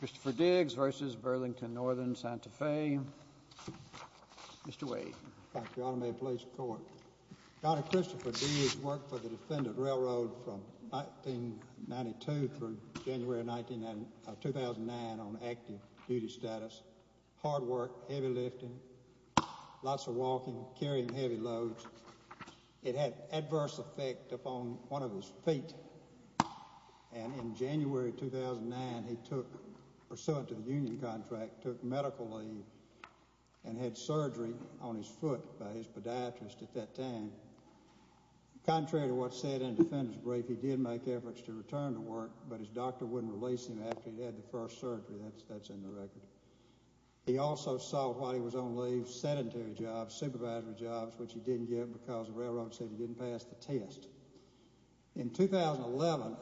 Christopher Diggs v. Burlington No & Santa Fe Mr. Wade Thank you, Your Honor. May it please the Court. Your Honor, Christopher Diggs worked for the Defendant Railroad from 1992 through January 2009 on active duty status. Hard work, heavy lifting, lots of walking, carrying heavy loads. It had adverse effect upon one of his feet. And in January 2009, he took, pursuant to the union contract, took medical leave and had surgery on his foot by his podiatrist at that time. Contrary to what's said in the defendant's brief, he did make efforts to return to work, but his doctor wouldn't release him after he'd had the first surgery. That's in the record. He also sought, while he was on leave, sedentary jobs, supervisory jobs, which he didn't get because the railroad said he didn't pass the test. In 2011,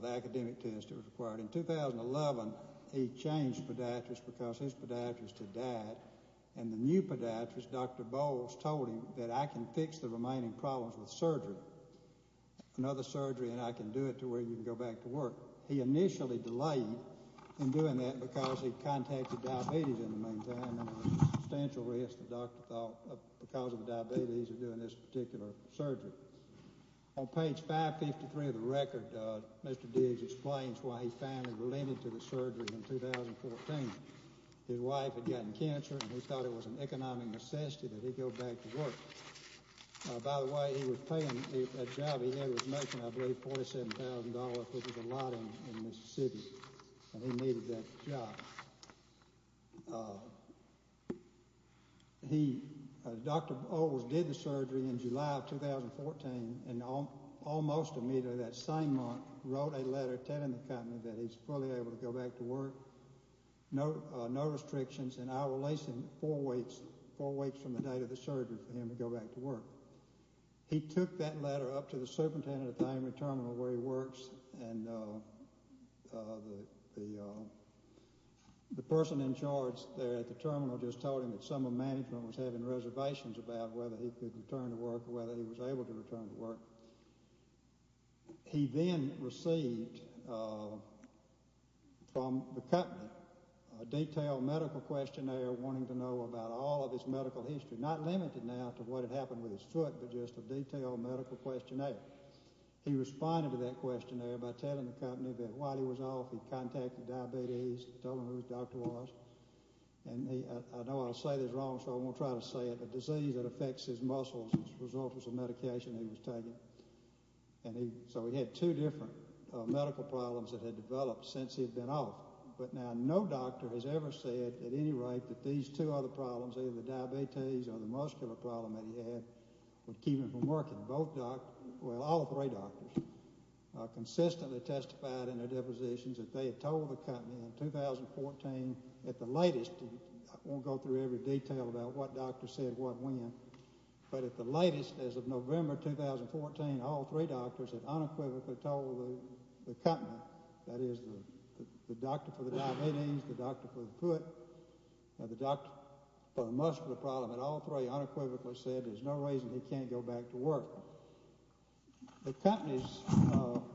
the academic test that was required, in 2011, he changed podiatrist because his podiatrist had died. And the new podiatrist, Dr. Bowles, told him that, I can fix the remaining problems with surgery, another surgery, and I can do it to where you can go back to work. He initially delayed in doing that because he contacted diabetes in the meantime, and there was a substantial risk the doctor thought, because of the diabetes, of doing this particular surgery. On page 553 of the record, Mr. Diggs explains why he finally relented to the surgery in 2014. His wife had gotten cancer, and he thought it was an economic necessity that he go back to work. By the way, he was paying, that job he had was making, I believe, $47,000, which was a lot in Mississippi, and he needed that job. He, Dr. Bowles, did the surgery in July of 2014, and almost immediately that same month, wrote a letter telling the company that he's fully able to go back to work, no restrictions, and I will release him four weeks from the date of the surgery for him to go back to work. He took that letter up to the superintendent of the primary terminal where he works, and the person in charge there at the terminal just told him that some of the management was having reservations about whether he could return to work or whether he was able to return to work. He then received from the company a detailed medical questionnaire wanting to know about all of his medical history, not limited now to what had happened with his foot, but just a detailed medical questionnaire. He responded to that questionnaire by telling the company that while he was off, he'd contacted diabetes, told them who his doctor was, and I know I'll say this wrong, so I won't try to say it, but he had a disease that affects his muscles as a result of some medication he was taking, so he had two different medical problems that had developed since he'd been off. But now no doctor has ever said at any rate that these two other problems, either the diabetes or the muscular problem that he had, would keep him from working. Well, all three doctors consistently testified in their depositions that they had told the company in 2014 at the latest, and I won't go through every detail about what doctor said what when, but at the latest, as of November 2014, all three doctors had unequivocally told the company, that is, the doctor for the diabetes, the doctor for the foot, and the doctor for the muscular problem, that all three unequivocally said there's no reason he can't go back to work. The company's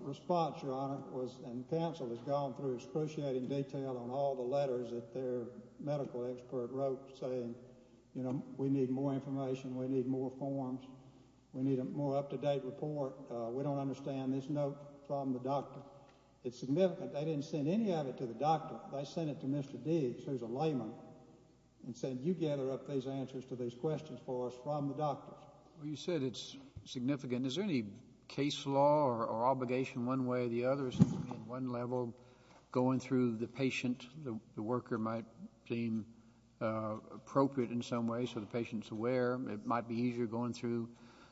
response, Your Honor, and counsel has gone through excruciating detail on all the letters that their medical expert wrote saying, you know, we need more information, we need more forms, we need a more up-to-date report, we don't understand this note from the doctor. It's significant. I didn't send any of it to the doctor. I sent it to Mr. Deeds, who's a layman, and said, you gather up those answers to those questions for us from the doctors. Well, you said it's significant. Is there any case law or obligation one way or the other in one level going through the patient? The worker might seem appropriate in some way so the patient's aware. It might be easier going through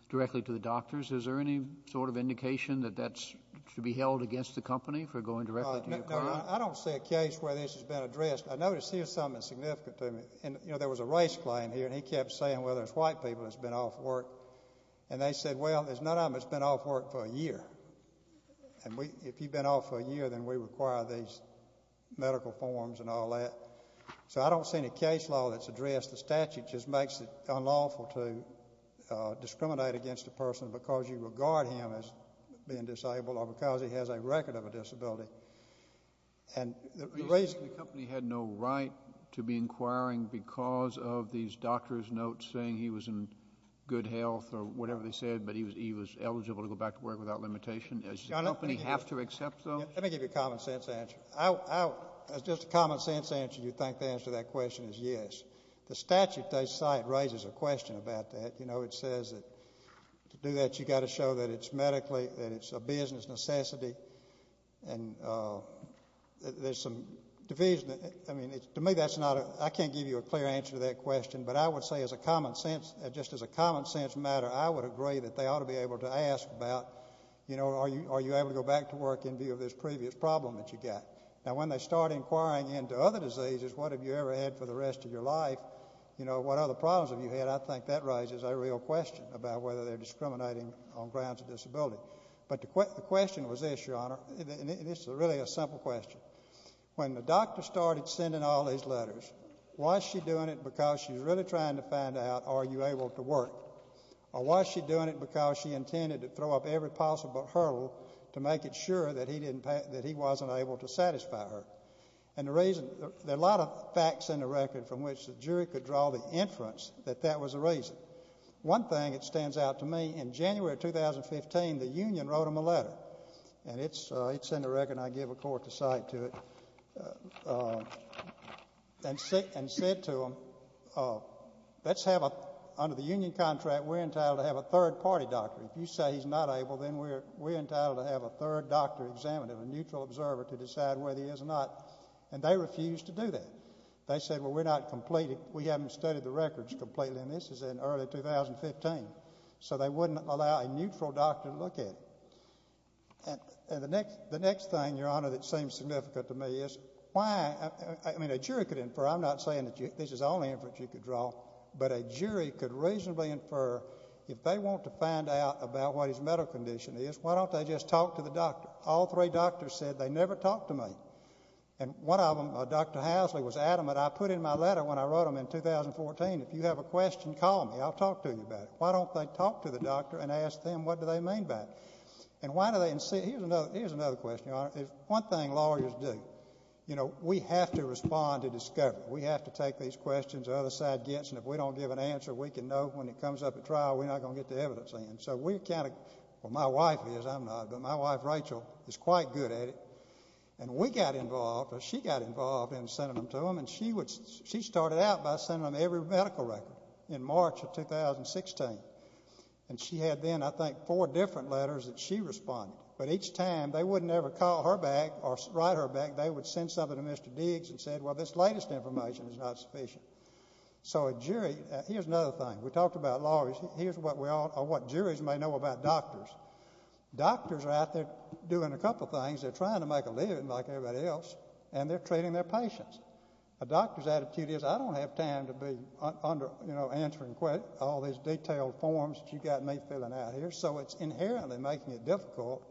directly to the doctors. Is there any sort of indication that that should be held against the company for going directly to your client? I don't see a case where this has been addressed. I notice here something that's significant to me. You know, there was a race claim here, and he kept saying, well, there's white people that's been off work. And they said, well, there's none of them that's been off work for a year. And if you've been off for a year, then we require these medical forms and all that. So I don't see any case law that's addressed. I guess the statute just makes it unlawful to discriminate against a person because you regard him as being disabled or because he has a record of a disability. The reason the company had no right to be inquiring because of these doctor's notes saying he was in good health or whatever they said, but he was eligible to go back to work without limitation. Does the company have to accept those? Let me give you a common sense answer. Just a common sense answer, you think the answer to that question is yes. The statute they cite raises a question about that. You know, it says that to do that, you've got to show that it's medically, that it's a business necessity. And there's some division. I mean, to me, that's not a ñ I can't give you a clear answer to that question. But I would say as a common sense, just as a common sense matter, I would agree that they ought to be able to ask about, you know, are you able to go back to work in view of this previous problem that you got? Now, when they start inquiring into other diseases, what have you ever had for the rest of your life? You know, what other problems have you had? I think that raises a real question about whether they're discriminating on grounds of disability. But the question was this, Your Honor, and this is really a simple question. When the doctor started sending all these letters, was she doing it because she's really trying to find out are you able to work? Or was she doing it because she intended to throw up every possible hurdle to make it sure that he wasn't able to satisfy her? And the reason ñ there are a lot of facts in the record from which the jury could draw the inference that that was the reason. One thing that stands out to me, in January of 2015, the union wrote him a letter, and it's in the record and I give a court to cite to it, and said to him, let's have a ñ under the union contract, we're entitled to have a third-party doctor. If you say he's not able, then we're entitled to have a third doctor examined, a neutral observer to decide whether he is or not. And they refused to do that. They said, well, we're not completing ñ we haven't studied the records completely, and this is in early 2015, so they wouldn't allow a neutral doctor to look at it. And the next thing, Your Honor, that seems significant to me is why ñ I mean, a jury could infer ñ I'm not saying that this is the only inference you could draw, but a jury could reasonably infer if they want to find out about what his medical condition is, why don't they just talk to the doctor? All three doctors said they never talked to me. And one of them, Dr. Housley, was adamant. I put in my letter when I wrote him in 2014, if you have a question, call me. I'll talk to you about it. Why don't they talk to the doctor and ask them what do they mean by it? And why do they insist ñ here's another question, Your Honor. One thing lawyers do, you know, we have to respond to discovery. We have to take these questions. The other side gets them. If we don't give an answer, we can know when it comes up at trial we're not going to get the evidence in. So we kind of ñ well, my wife is. I'm not. But my wife, Rachel, is quite good at it. And we got involved, or she got involved, in sending them to them. And she would ñ she started out by sending them every medical record in March of 2016. And she had then, I think, four different letters that she responded. But each time they wouldn't ever call her back or write her back. They would send something to Mr. Diggs and say, well, this latest information is not sufficient. So a jury ñ here's another thing. We talked about lawyers. Here's what we all ñ or what juries may know about doctors. Doctors are out there doing a couple things. They're trying to make a living like everybody else, and they're treating their patients. A doctor's attitude is, I don't have time to be answering all these detailed forms that you got me filling out here. So it's inherently making it difficult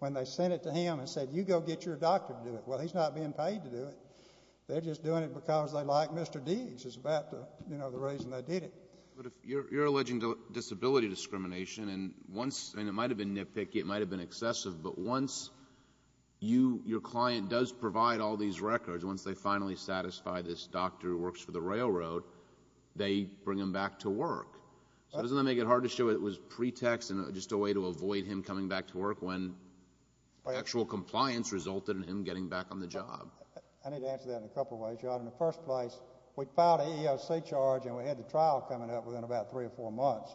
when they send it to him and say, you go get your doctor to do it. Well, he's not being paid to do it. They're just doing it because they like Mr. Diggs is about the reason they did it. But if you're alleging disability discrimination, and once ñ and it might have been nitpicky. It might have been excessive. But once your client does provide all these records, once they finally satisfy this doctor who works for the railroad, they bring him back to work. So doesn't that make it hard to show it was pretext and just a way to avoid him coming back to work when actual compliance resulted in him getting back on the job? I need to answer that in a couple ways, John. In the first place, we filed an EEOC charge, and we had the trial coming up within about three or four months.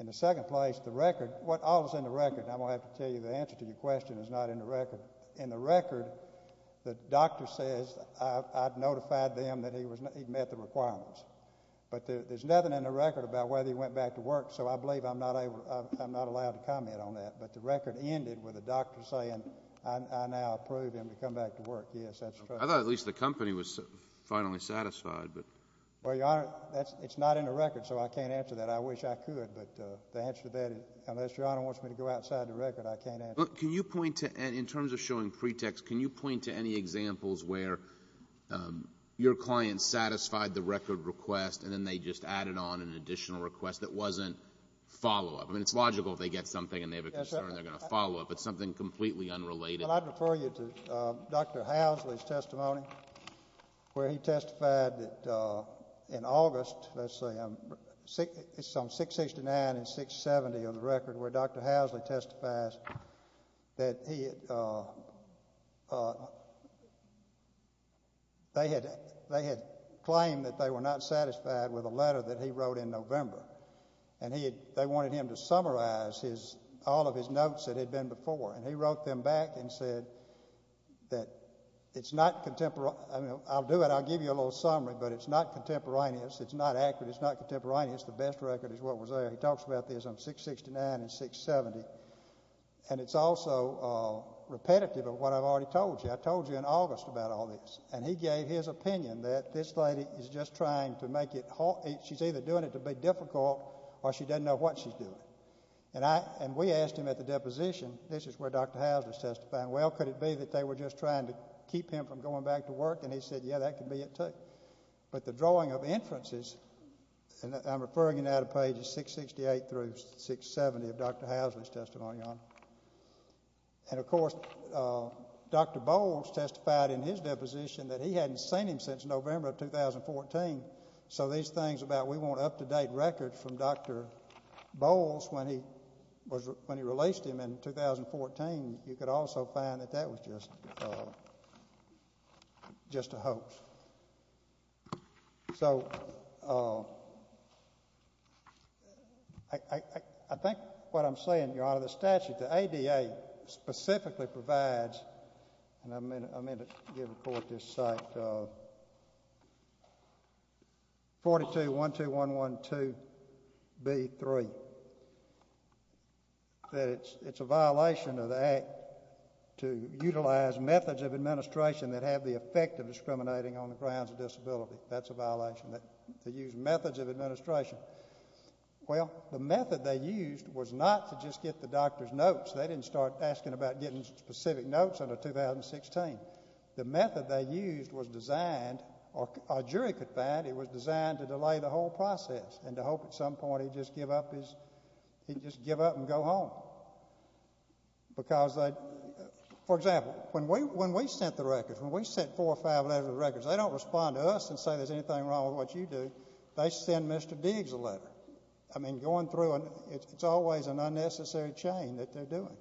In the second place, the record ñ all is in the record. I'm going to have to tell you the answer to your question is not in the record. In the record, the doctor says I notified them that he met the requirements. But there's nothing in the record about whether he went back to work, so I believe I'm not allowed to comment on that. But the record ended with the doctor saying I now approve him to come back to work. Yes, that's true. I thought at least the company was finally satisfied. Well, Your Honor, it's not in the record, so I can't answer that. I wish I could, but the answer to that is unless Your Honor wants me to go outside the record, I can't answer that. Look, can you point to ñ in terms of showing pretext, can you point to any examples where your client satisfied the record request and then they just added on an additional request that wasn't follow-up? I mean, it's logical if they get something and they have a concern they're going to follow-up. It's something completely unrelated. Well, I'd refer you to Dr. Housley's testimony where he testified that in August, let's see, it's on 669 and 670 of the record where Dr. Housley testifies that he had ñ they had claimed that they were not satisfied with a letter that he wrote in November, and they wanted him to summarize all of his notes that had been before. And he wrote them back and said that it's not ñ I'll do it. I'll give you a little summary, but it's not contemporaneous. It's not accurate. It's not contemporaneous. The best record is what was there. He talks about this on 669 and 670. And it's also repetitive of what I've already told you. I told you in August about all this. And he gave his opinion that this lady is just trying to make it ñ she's either doing it to be difficult or she doesn't know what she's doing. And we asked him at the deposition, this is where Dr. Housley is testifying, well, could it be that they were just trying to keep him from going back to work? And he said, yeah, that could be it too. But the drawing of inferences, and I'm referring you now to pages 668 through 670 of Dr. Housley's testimony, Your Honor. And, of course, Dr. Bowles testified in his deposition that he hadn't seen him since November of 2014. And so these things about we want up-to-date records from Dr. Bowles when he released him in 2014, you could also find that that was just a hoax. So I think what I'm saying, Your Honor, the statute, the ADA, specifically provides, and I meant to give the Court this cite, 4212112B3, that it's a violation of the Act to utilize methods of administration that have the effect of discriminating on the grounds of disability. That's a violation. They use methods of administration. Well, the method they used was not to just get the doctor's notes. They didn't start asking about getting specific notes until 2016. The method they used was designed, or a jury could find, it was designed to delay the whole process and to hope at some point he'd just give up and go home. Because, for example, when we sent the records, when we sent four or five letters with records, they don't respond to us and say there's anything wrong with what you do. They send Mr. Diggs a letter. I mean, going through, it's always an unnecessary chain that they're doing.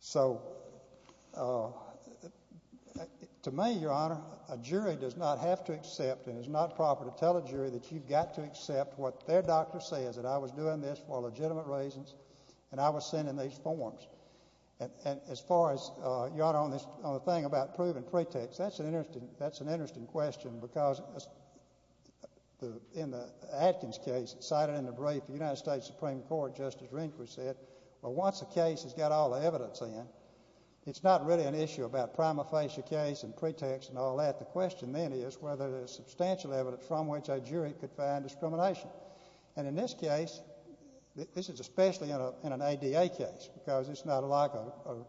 So to me, Your Honor, a jury does not have to accept and it's not proper to tell a jury that you've got to accept what their doctor says, that I was doing this for legitimate reasons and I was sending these forms. And as far as, Your Honor, on the thing about proven pretext, that's an interesting question because in the Atkins case, cited in the brief, the United States Supreme Court, Justice Rehnquist said, well, once a case has got all the evidence in, it's not really an issue about prima facie case and pretext and all that. The question then is whether there's substantial evidence from which a jury could find discrimination. And in this case, this is especially in an ADA case because it's not like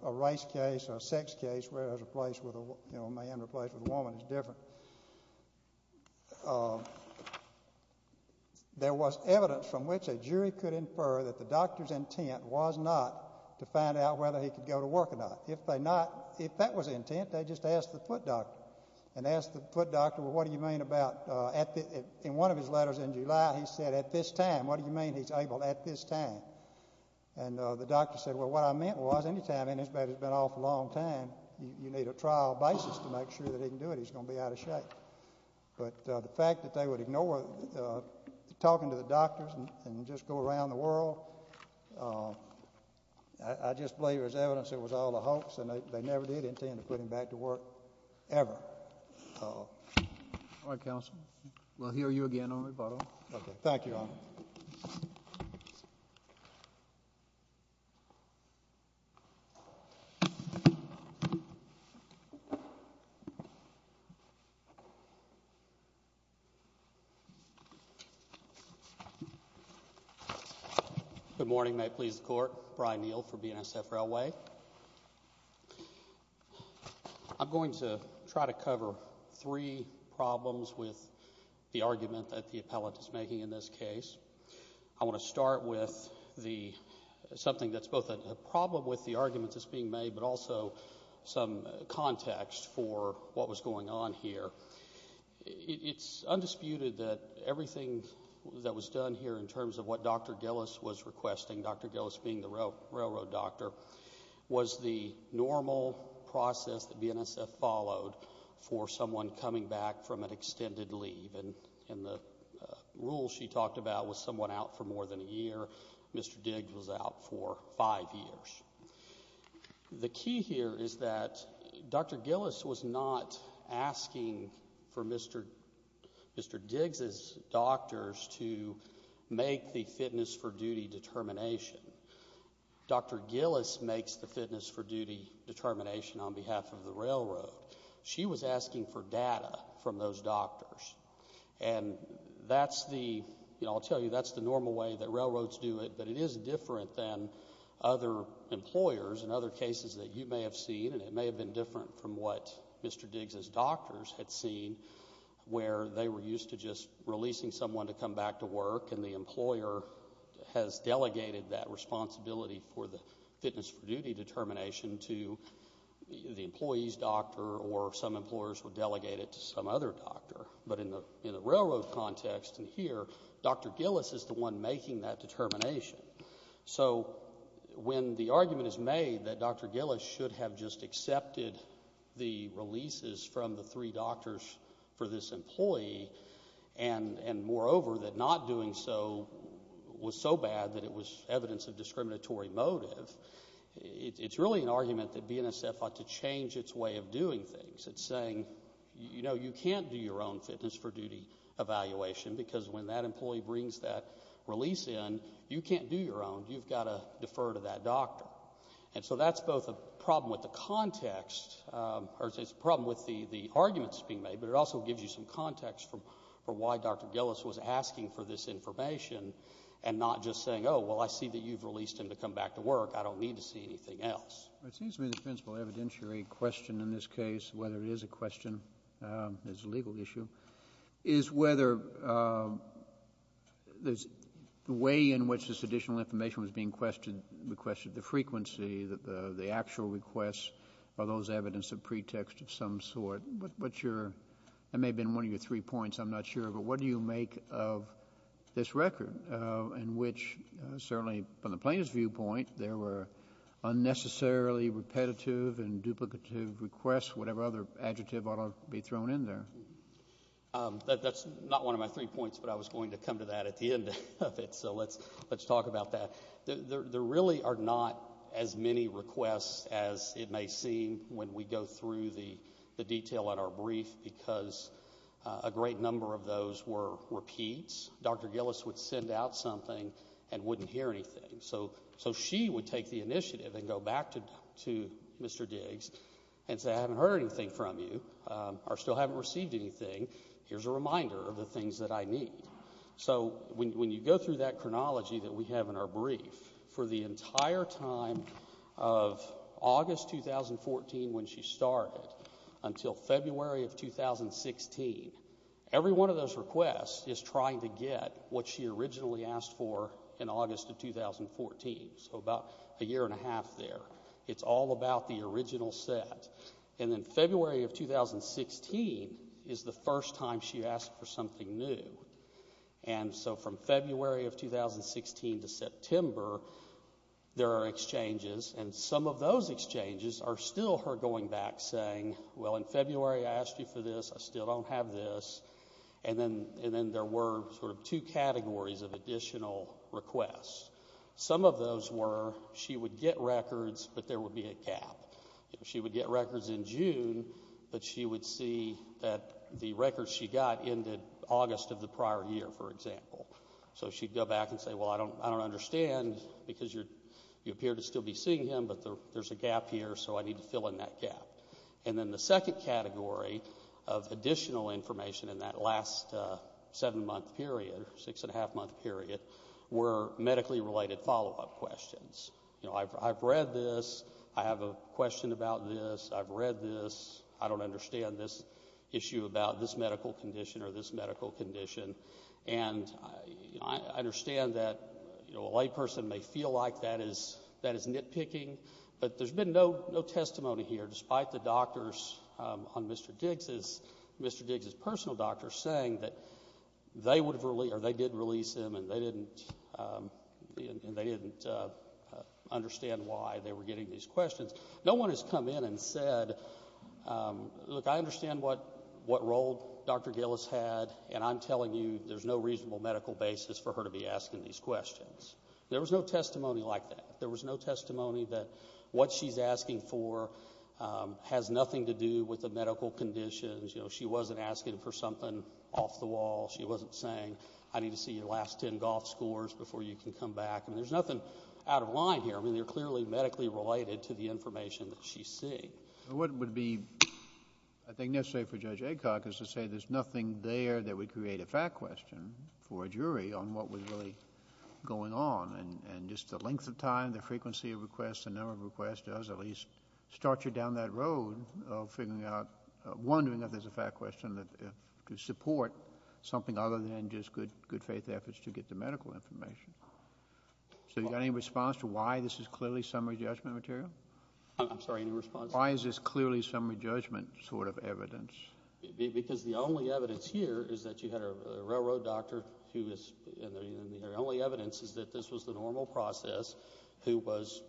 a race case or a sex case where a man replaced with a woman is different. There was evidence from which a jury could infer that the doctor's intent was not to find out whether he could go to work or not. If that was intent, they just asked the foot doctor. And they asked the foot doctor, well, what do you mean about, in one of his letters in July, he said, at this time. What do you mean he's able at this time? And the doctor said, well, what I meant was, anytime anybody's been off a long time, you need a trial basis to make sure that he can do it. He's going to be out of shape. But the fact that they would ignore talking to the doctors and just go around the world, I just believe there's evidence it was all a hoax and they never did intend to put him back to work ever. All right, counsel. We'll hear you again on rebuttal. Thank you, Your Honor. Good morning. May it please the Court. Brian Neal for BNSF Railway. I'm going to try to cover three problems with the argument that the appellate is making in this case. I want to start with something that's both a problem with the argument that's being made but also some context for what was going on here. It's undisputed that everything that was done here in terms of what Dr. Gillis was requesting, Dr. Gillis being the railroad doctor, was the normal process that BNSF followed for someone coming back from an extended leave. And the rule she talked about was someone out for more than a year. Mr. Diggs was out for five years. The key here is that Dr. Gillis was not asking for Mr. Diggs' doctors to make the fitness-for-duty determination. Dr. Gillis makes the fitness-for-duty determination on behalf of the railroad. She was asking for data from those doctors. And I'll tell you, that's the normal way that railroads do it, but it is different than other employers and other cases that you may have seen, and it may have been different from what Mr. Diggs' doctors had seen where they were used to just releasing someone to come back to work and the employer has delegated that responsibility for the fitness-for-duty determination to the employee's doctor or some employers would delegate it to some other doctor. But in the railroad context and here, Dr. Gillis is the one making that determination. So when the argument is made that Dr. Gillis should have just accepted the releases from the three doctors for this employee and moreover that not doing so was so bad that it was evidence of discriminatory motive, it's really an argument that BNSF ought to change its way of doing things. It's saying, you know, you can't do your own fitness-for-duty evaluation because when that employee brings that release in, you can't do your own. You've got to defer to that doctor. And so that's both a problem with the context or it's a problem with the arguments being made, but it also gives you some context for why Dr. Gillis was asking for this information and not just saying, oh, well, I see that you've released him to come back to work. I don't need to see anything else. It seems to me the principal evidentiary question in this case, whether it is a question that's a legal issue, is whether the way in which this additional information was being questioned, the question of the frequency, the actual requests, are those evidence of pretext of some sort. What's your ‑‑ that may have been one of your three points. I'm not sure, but what do you make of this record in which certainly from the plaintiff's viewpoint there were unnecessarily repetitive and duplicative requests, whatever other adjective ought to be thrown in there? That's not one of my three points, but I was going to come to that at the end of it, so let's talk about that. There really are not as many requests as it may seem when we go through the detail in our brief because a great number of those were repeats. Dr. Gillis would send out something and wouldn't hear anything. So she would take the initiative and go back to Mr. Diggs and say I haven't heard anything from you or still haven't received anything. Here's a reminder of the things that I need. So when you go through that chronology that we have in our brief, for the entire time of August 2014 when she started until February of 2016, every one of those requests is trying to get what she originally asked for in August of 2014, so about a year and a half there. It's all about the original set. And then February of 2016 is the first time she asked for something new. And so from February of 2016 to September, there are exchanges, and some of those exchanges are still her going back saying, well, in February I asked you for this. I still don't have this. And then there were sort of two categories of additional requests. Some of those were she would get records, but there would be a gap. She would get records in June, but she would see that the records she got ended August of the prior year, for example. So she'd go back and say, well, I don't understand because you appear to still be seeing him, but there's a gap here, so I need to fill in that gap. And then the second category of additional information in that last seven-month period, six-and-a-half-month period, were medically-related follow-up questions. You know, I've read this. I have a question about this. I've read this. I don't understand this issue about this medical condition or this medical condition. And I understand that a layperson may feel like that is nitpicking, but there's been no testimony here, despite the doctors on Mr. Diggs's personal doctor, saying that they did release him and they didn't understand why they were getting these questions. No one has come in and said, look, I understand what role Dr. Gillis had, and I'm telling you there's no reasonable medical basis for her to be asking these questions. There was no testimony like that. There was no testimony that what she's asking for has nothing to do with the medical conditions. You know, she wasn't asking for something off the wall. She wasn't saying, I need to see your last ten golf scores before you can come back. I mean, there's nothing out of line here. I mean, they're clearly medically-related to the information that she's seeing. What would be, I think, necessary for Judge Aycock is to say there's nothing there that would create a fact question for a jury on what was really going on. And just the length of time, the frequency of requests, the number of requests does at least start you down that road of figuring out, wondering if there's a fact question to support something other than just good-faith efforts to get the medical information. So you got any response to why this is clearly summary judgment material? I'm sorry, any response? Why is this clearly summary judgment sort of evidence? Because the only evidence here is that you had a railroad doctor and the only evidence is that this was the normal process who was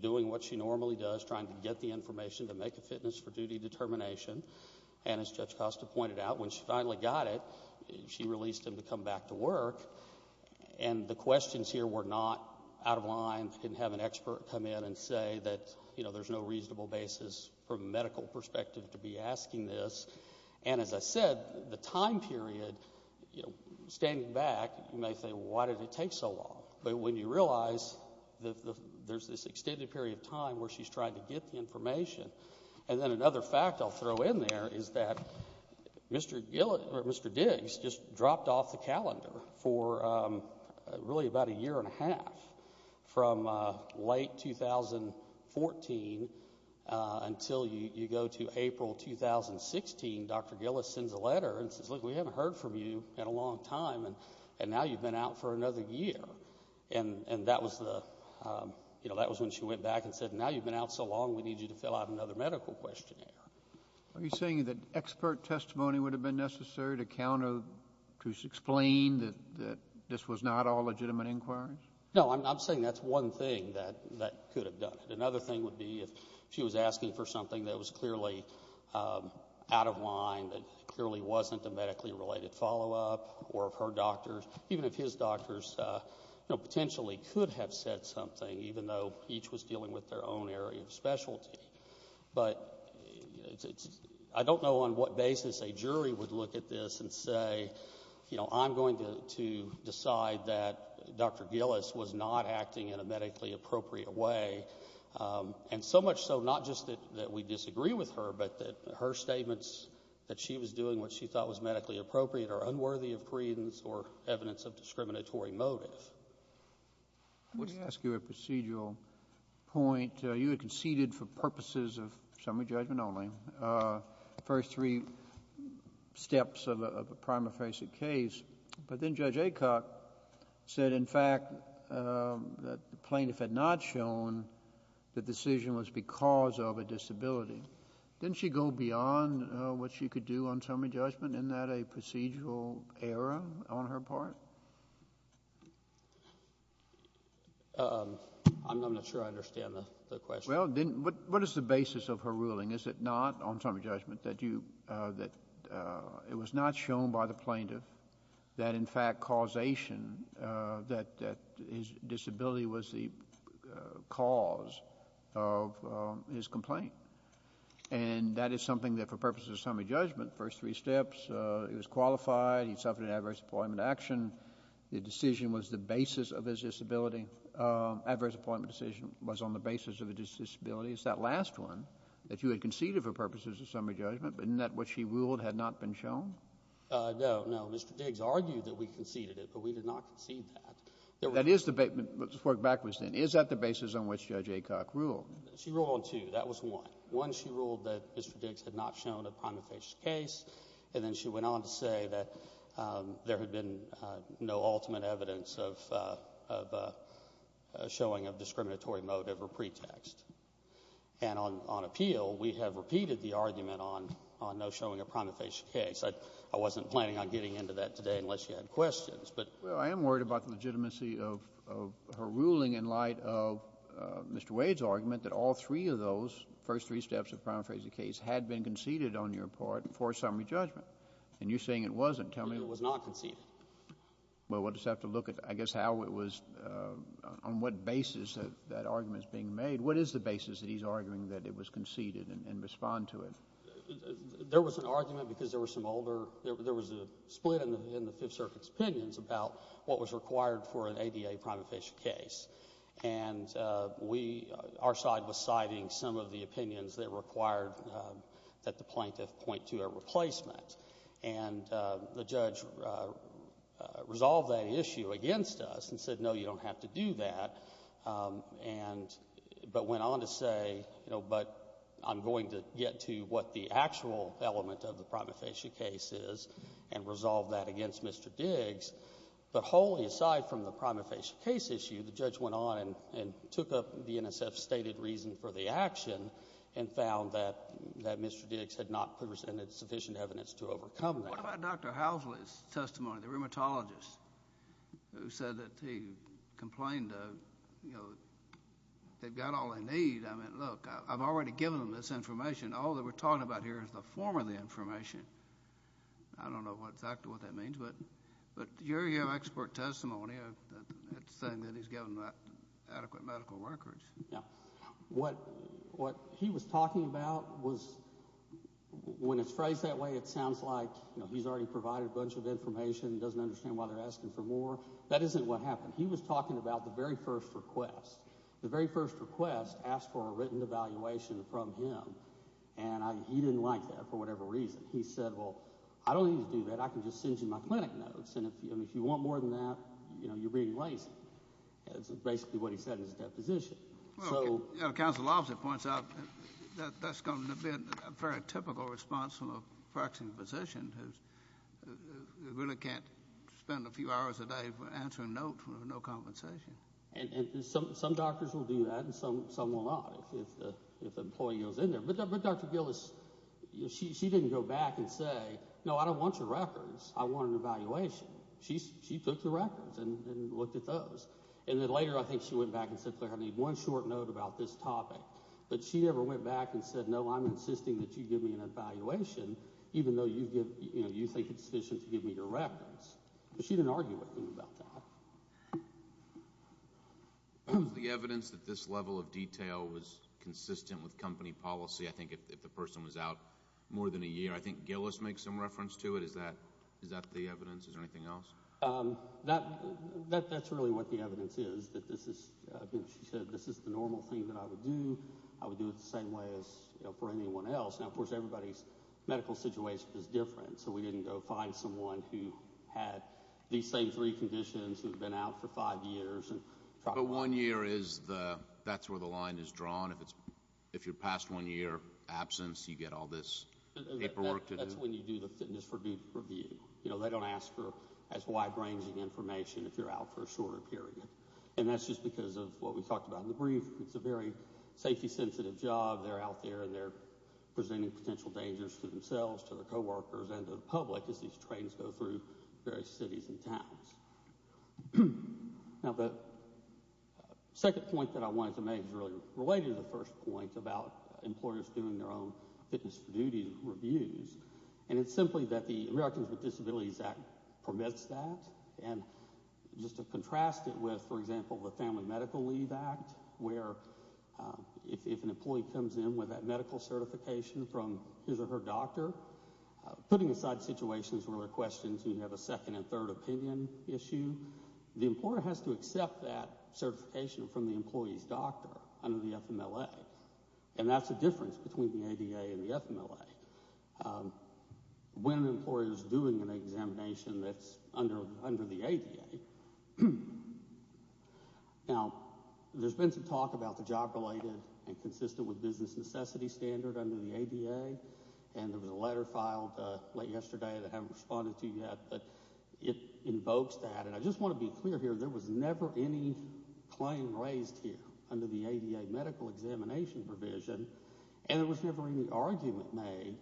doing what she normally does, trying to get the information to make a fitness for duty determination. And as Judge Costa pointed out, when she finally got it, she released him to come back to work. And the questions here were not out of line. You can have an expert come in and say that there's no reasonable basis from a medical perspective to be asking this. And as I said, the time period, standing back, you may say, well, why did it take so long? But when you realize that there's this extended period of time where she's trying to get the information, and then another fact I'll throw in there is that Mr. Diggs just dropped off the calendar for really about a year and a half. From late 2014 until you go to April 2016, Dr. Gillis sends a letter and says, look, we haven't heard from you in a long time, and now you've been out for another year. And that was when she went back and said, now you've been out so long, we need you to fill out another medical questionnaire. Are you saying that expert testimony would have been necessary to explain that this was not all legitimate inquiries? No, I'm saying that's one thing that could have done it. Another thing would be if she was asking for something that was clearly out of line, that clearly wasn't a medically related follow-up, or if her doctors, even if his doctors, potentially could have said something even though each was dealing with their own area of specialty. But I don't know on what basis a jury would look at this and say, I'm going to decide that Dr. Gillis was not acting in a medically appropriate way. And so much so, not just that we disagree with her, but that her statements that she was doing what she thought was medically appropriate are unworthy of credence or evidence of discriminatory motive. Let me ask you a procedural point. You had conceded for purposes of summary judgment only. The first three steps of a prima facie case. But then Judge Aycock said, in fact, that the plaintiff had not shown the decision was because of a disability. Didn't she go beyond what she could do on summary judgment? Isn't that a procedural error on her part? I'm not sure I understand the question. Well, what is the basis of her ruling? Is it not on summary judgment that it was not shown by the plaintiff that, in fact, causation that his disability was the cause of his complaint? And that is something that for purposes of summary judgment, first three steps, he was qualified. He suffered an adverse appointment action. The decision was the basis of his disability. Adverse appointment decision was on the basis of his disability. It's that last one that you had conceded for purposes of summary judgment. But isn't that what she ruled had not been shown? No, no. Mr. Diggs argued that we conceded it, but we did not concede that. That is the basis. Let's work backwards then. Is that the basis on which Judge Aycock ruled? She ruled on two. That was one. One, she ruled that Mr. Diggs had not shown a prima facie case. And then she went on to say that there had been no ultimate evidence of a showing of discriminatory motive or pretext. And on appeal, we have repeated the argument on no showing a prima facie case. I wasn't planning on getting into that today unless you had questions, but… Well, I am worried about the legitimacy of her ruling in light of Mr. Wade's argument that all three of those first three steps of prima facie case had been conceded on your part for summary judgment. And you're saying it wasn't. Tell me… It was not conceded. Well, we'll just have to look at, I guess, how it was… on what basis that argument is being made. What is the basis that he's arguing that it was conceded and respond to it? There was an argument because there were some older… there was a split in the Fifth Circuit's opinions about what was required for an ADA prima facie case. And we… our side was citing some of the opinions that required that the plaintiff point to a replacement. And the judge resolved that issue against us and said, no, you don't have to do that, and… but went on to say, you know, but I'm going to get to what the actual element of the prima facie case is and resolve that against Mr. Diggs. But wholly aside from the prima facie case issue, the judge went on and took up the NSF stated reason for the action and found that Mr. Diggs had not presented sufficient evidence to overcome that. What about Dr. Housley's testimony, the rheumatologist, who said that he complained of, you know, they've got all they need. I mean, look, I've already given them this information. I don't know exactly what that means, but your expert testimony, it's saying that he's given them adequate medical records. Yeah. What he was talking about was… when it's phrased that way, it sounds like, you know, he's already provided a bunch of information and doesn't understand why they're asking for more. That isn't what happened. He was talking about the very first request. The very first request asked for a written evaluation from him, and he didn't like that for whatever reason. He said, well, I don't need to do that. I can just send you my clinic notes, and if you want more than that, you know, you're reading right. That's basically what he said in his deposition. Well, Council Officer points out that that's going to be a very typical response from a practicing physician who really can't spend a few hours a day answering notes with no compensation. And some doctors will do that, and some will not if an employee goes in there. But Dr. Gillis, she didn't go back and say, no, I don't want your records. I want an evaluation. She took the records and looked at those. And then later, I think she went back and said, Claire, I need one short note about this topic. But she never went back and said, no, I'm insisting that you give me an evaluation, even though you think it's sufficient to give me your records. She didn't argue with him about that. Is the evidence that this level of detail was consistent with company policy? I think if the person was out more than a year, I think Gillis makes some reference to it. Is that the evidence? Is there anything else? That's really what the evidence is. She said, this is the normal thing that I would do. I would do it the same way as for anyone else. Now, of course, everybody's medical situation is different, so we didn't go find someone who had these same three conditions, who'd been out for five years. But one year, that's where the line is drawn? If you're past one year absence, you get all this paperwork to do? That's when you do the fitness review. They don't ask for as wide-ranging information if you're out for a shorter period. And that's just because of what we talked about in the brief. It's a very safety-sensitive job. They're out there, and they're presenting potential dangers to themselves, to their workers, and to the public as these trains go through various cities and towns. Now, the second point that I wanted to make is really related to the first point about employers doing their own fitness for duty reviews. And it's simply that the Americans with Disabilities Act permits that. And just to contrast it with, for example, the Family Medical Leave Act, where if an employer has to accept medical certification from his or her doctor, putting aside situations where there are questions and you have a second and third opinion issue, the employer has to accept that certification from the employee's doctor under the FMLA. And that's the difference between the ADA and the FMLA. When an employer is doing an examination that's under the ADA, now, there's been some talk about the job-related and consistent with business necessity standard under the ADA. And there was a letter filed late yesterday that I haven't responded to yet, but it invokes that. And I just want to be clear here. There was never any claim raised here under the ADA medical examination provision, and there was never any argument made,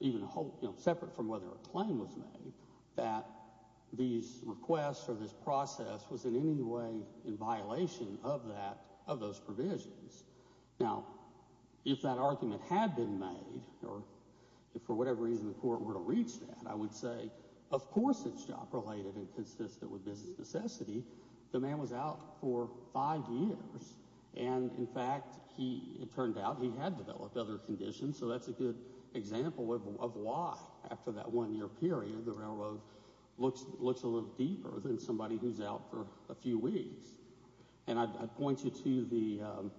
even separate from whether a claim was made, that these provisions. Now, if that argument had been made, or if for whatever reason the Court were to reach that, I would say, of course it's job-related and consistent with business necessity. The man was out for five years, and, in fact, he, it turned out, he had developed other conditions, so that's a good example of why, after that one-year period, the railroad looks a little deeper than somebody who's out for a few weeks. And I'd point you to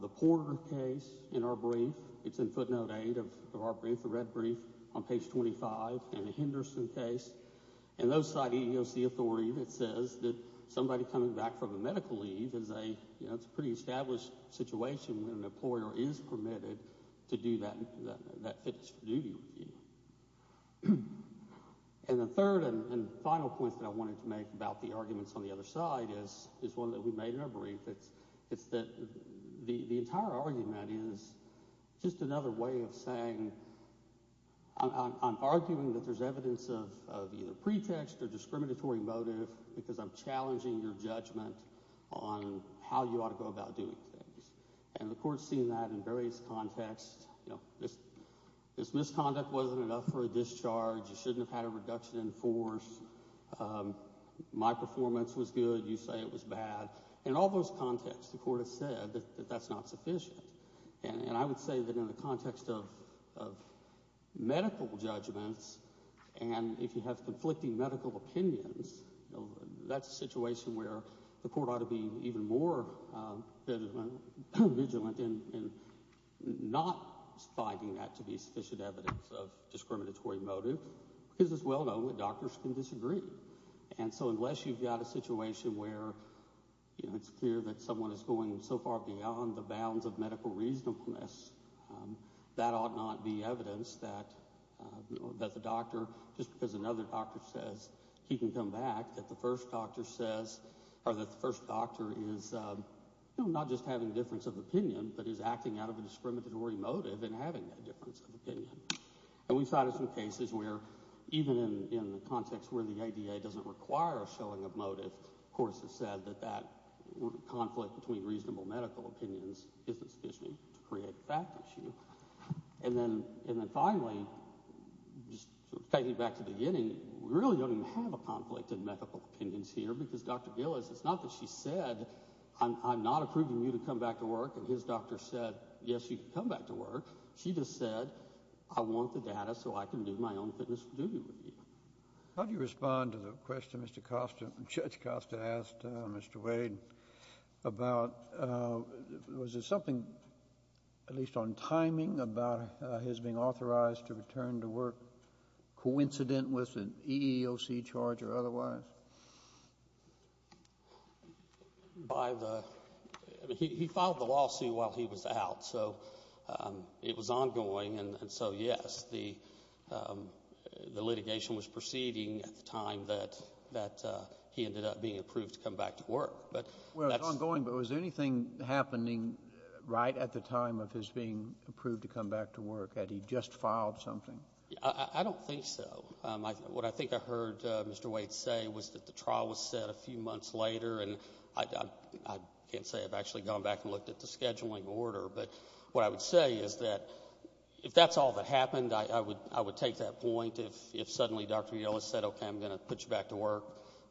the Porter case in our brief. It's in footnote 8 of our brief, the red brief, on page 25, and the Henderson case. And those cite EEOC authority that says that somebody coming back from a medical leave is a, you know, it's a pretty established situation when an employer is permitted to do that, that, that fixed-duty review. And the third and final point that I wanted to make about the arguments on the other side is, is one that we made in our brief, it's, it's that the, the entire argument is just another way of saying, I'm, I'm, I'm arguing that there's evidence of, of either pretext or discriminatory motive because I'm challenging your judgment on how you ought to go about doing things. And the court's seen that in various contexts. You know, this, this misconduct wasn't enough for a discharge. You shouldn't have had a reduction in force. My performance was good. You say it was bad. In all those contexts, the court has said that, that that's not sufficient. And, and I would say that in the context of, of medical judgments, and if you have conflicting medical opinions, you know, that's a situation where the court ought to be even more vigilant in, in not finding that to be sufficient evidence of discriminatory motive because it's well known that doctors can disagree. And so unless you've got a situation where, you know, it's clear that someone is going so far beyond the bounds of medical reasonableness, that ought not be evidence that, that the doctor says he can come back, that the first doctor says, or that the first doctor is, you know, not just having a difference of opinion, but is acting out of a discriminatory motive and having that difference of opinion. And we've cited some cases where even in, in the context where the ADA doesn't require a showing of motive, the court has said that that conflict between reasonable medical opinions isn't sufficient to create a fact issue. And then, and then finally, just taking it back to the beginning, we really don't even have a conflict in medical opinions here because Dr. Gillis, it's not that she said, I'm, I'm not approving you to come back to work and his doctor said, yes, you can come back to work. She just said, I want the data so I can do my own fitness duty with you. How do you respond to the question Mr. Costa, Judge Costa asked Mr. Wade about, was there something, at least on timing, about his being authorized to return to work coincident with an EEOC charge or otherwise? By the, I mean, he, he filed the lawsuit while he was out, so it was ongoing, and so yes, the, the litigation was proceeding at the time that, that he ended up being approved to come back to work. Well, it was ongoing, but was there anything happening right at the time of his being approved to come back to work? Had he just filed something? I don't think so. What I think I heard Mr. Wade say was that the trial was set a few months later and I, I can't say I've actually gone back and looked at the scheduling order, but what I would say is that if that's all that happened, I would, I would take that point. If, if suddenly Dr. Gillis said, okay, I'm going to put you back to work,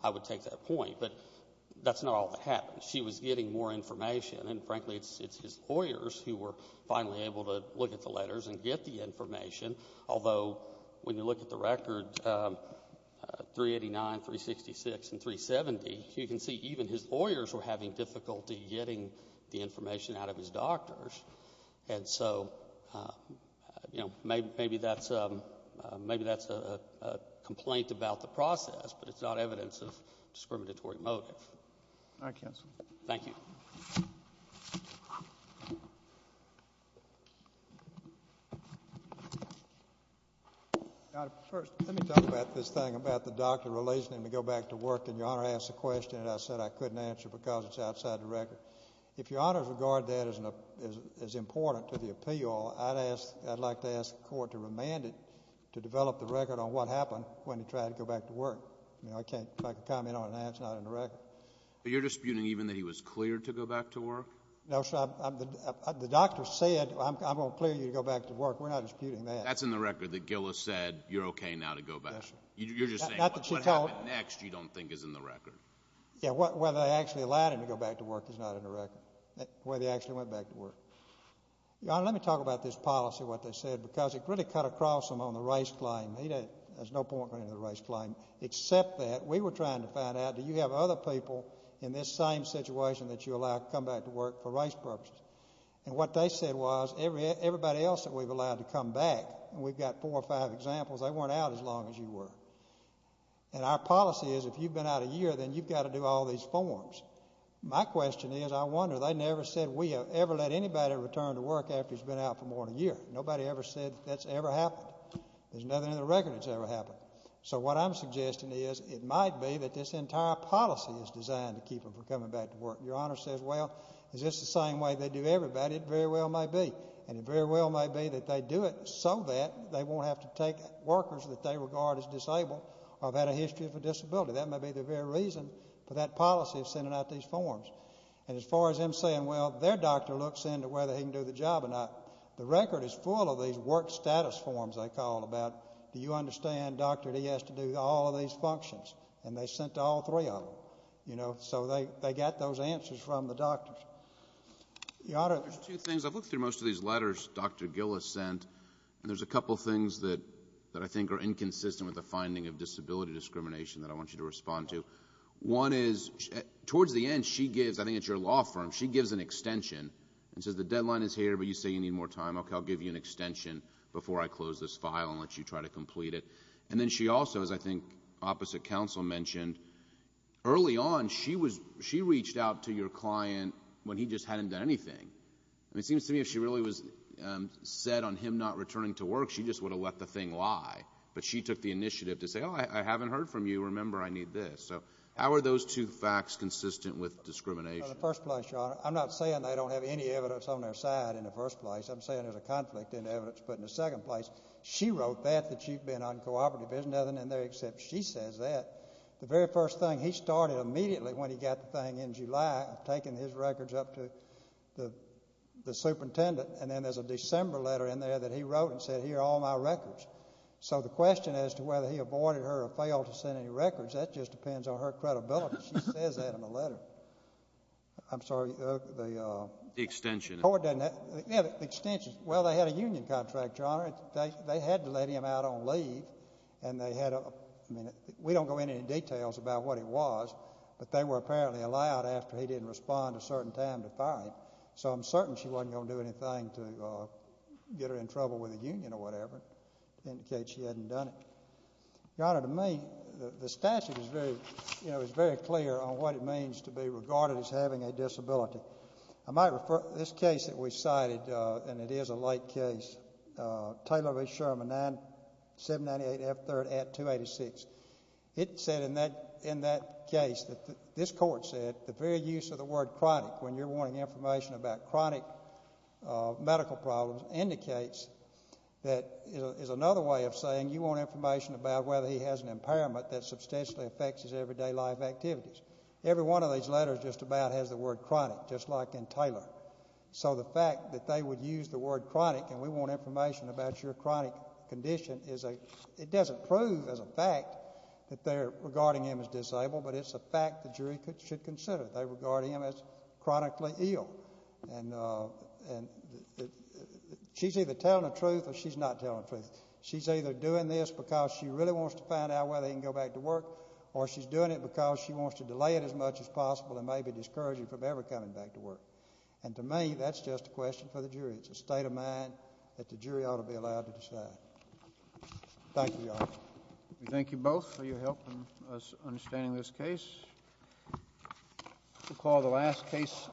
I would take that point. But that's not all that happened. She was getting more information, and frankly, it's, it's his lawyers who were finally able to look at the letters and get the information, although when you look at the record, 389, 366, and 370, you can see even his lawyers were having difficulty getting the information out of his doctors. And so, you know, maybe, maybe that's, maybe that's a complaint about the process, but it's not evidence of discriminatory motive. All right, counsel. Thank you. First, let me talk about this thing about the doctor releasing him to go back to work, and Your Honor asked a question that I said I couldn't answer because it's outside the record. If Your Honor's regard to that is important to the appeal, I'd ask, I'd like to ask the court to remand it to develop the record on what happened when he tried to go back to work. You know, I can't, if I can comment on that, it's not in the record. But you're disputing even that he was cleared to go back to work? No, sir. The doctor said, I'm going to clear you to go back to work. We're not disputing that. That's in the record that Gillis said, you're okay now to go back. You're just saying what happened next you don't think is in the record. Yeah, whether they actually allowed him to go back to work is not in the record, whether he actually went back to work. Your Honor, let me talk about this policy, what they said, because it really cut across him on the race claim. There's no point going into the race claim, except that we were trying to find out, do you have other people in this same situation that you allow to come back to work for race purposes? And what they said was, everybody else that we've allowed to come back, and we've got four or five examples, they weren't out as long as you were. And our policy is, if you've been out a year, then you've got to do all these forms. My question is, I wonder, they never said we have ever let anybody return to work after he's been out for more than a year. Nobody ever said that's ever happened. There's nothing in the record that's ever happened. So what I'm suggesting is, it might be that this entire policy is designed to keep him from coming back to work. Your Honor says, well, is this the same way they do everybody? It very well may be. And it very well may be that they do it so that they won't have to take workers that they regard as disabled or have had a history of a disability. That may be the very reason for that policy of sending out these forms. And as far as him saying, well, their doctor looks into whether he can do the job or not, the record is full of these work status forms, they call them, about, do you understand Dr. D has to do all of these functions? And they sent all three of them. So they got those answers from the doctors. Your Honor. There's two things. I've looked through most of these letters Dr. Gill has sent, and there's a couple things that I think are inconsistent with the finding of disability discrimination that I want you to respond to. One is, towards the end, she gives, I think it's your law firm, she gives an extension and says the deadline is here, but you say you need more time. Okay, I'll give you an extension before I close this file and let you try to complete it. And then she also, as I think opposite counsel mentioned, early on she reached out to your client when he just hadn't done anything. And it seems to me if she really was set on him not returning to work, she just would have let the thing lie. But she took the initiative to say, oh, I haven't heard from you. Remember, I need this. So how are those two facts consistent with discrimination? Well, in the first place, Your Honor, I'm not saying they don't have any evidence on their side in the first place. I'm saying there's a conflict in evidence. But in the second place, she wrote that, that she'd been uncooperative. There's nothing in there except she says that. The very first thing, he started immediately when he got the thing in July, taking his records up to the superintendent. And then there's a December letter in there that he wrote and said, here are all my records. So the question as to whether he avoided her or failed to send any records, that just depends on her credibility. She says that in the letter. I'm sorry. The extension. Yeah, the extension. Well, they had a union contract, Your Honor. They had to let him out on leave. And they had a, I mean, we don't go into any details about what it was. But they were apparently allowed after he didn't respond a certain time to fire him. So I'm certain she wasn't going to do anything to get her in trouble with the union or whatever, indicate she hadn't done it. Your Honor, to me, the statute is very clear on what it means to be regarded as having a disability. I might refer to this case that we cited, and it is a late case, Taylor v. Sherman, 798F3rd at 286. It said in that case that this court said the very use of the word chronic, when you're wanting information about chronic medical problems, indicates that is another way of saying you want information about whether he has an impairment that substantially affects his everyday life activities. Every one of these letters just about has the word chronic, just like in Taylor. So the fact that they would use the word chronic and we want information about your chronic condition is a, it doesn't prove as a fact that they're regarding him as disabled, but it's a fact the jury should consider. They regard him as chronically ill. And she's either telling the truth or she's not telling the truth. She's either doing this because she really wants to find out whether he can go back to work or she's doing it because she wants to delay it as much as possible and maybe discourage him from ever coming back to work. And to me, that's just a question for the jury. It's a state of mind that the jury ought to be allowed to decide. Thank you, Your Honor. We thank you both for your help in us understanding this case. We'll call the last case.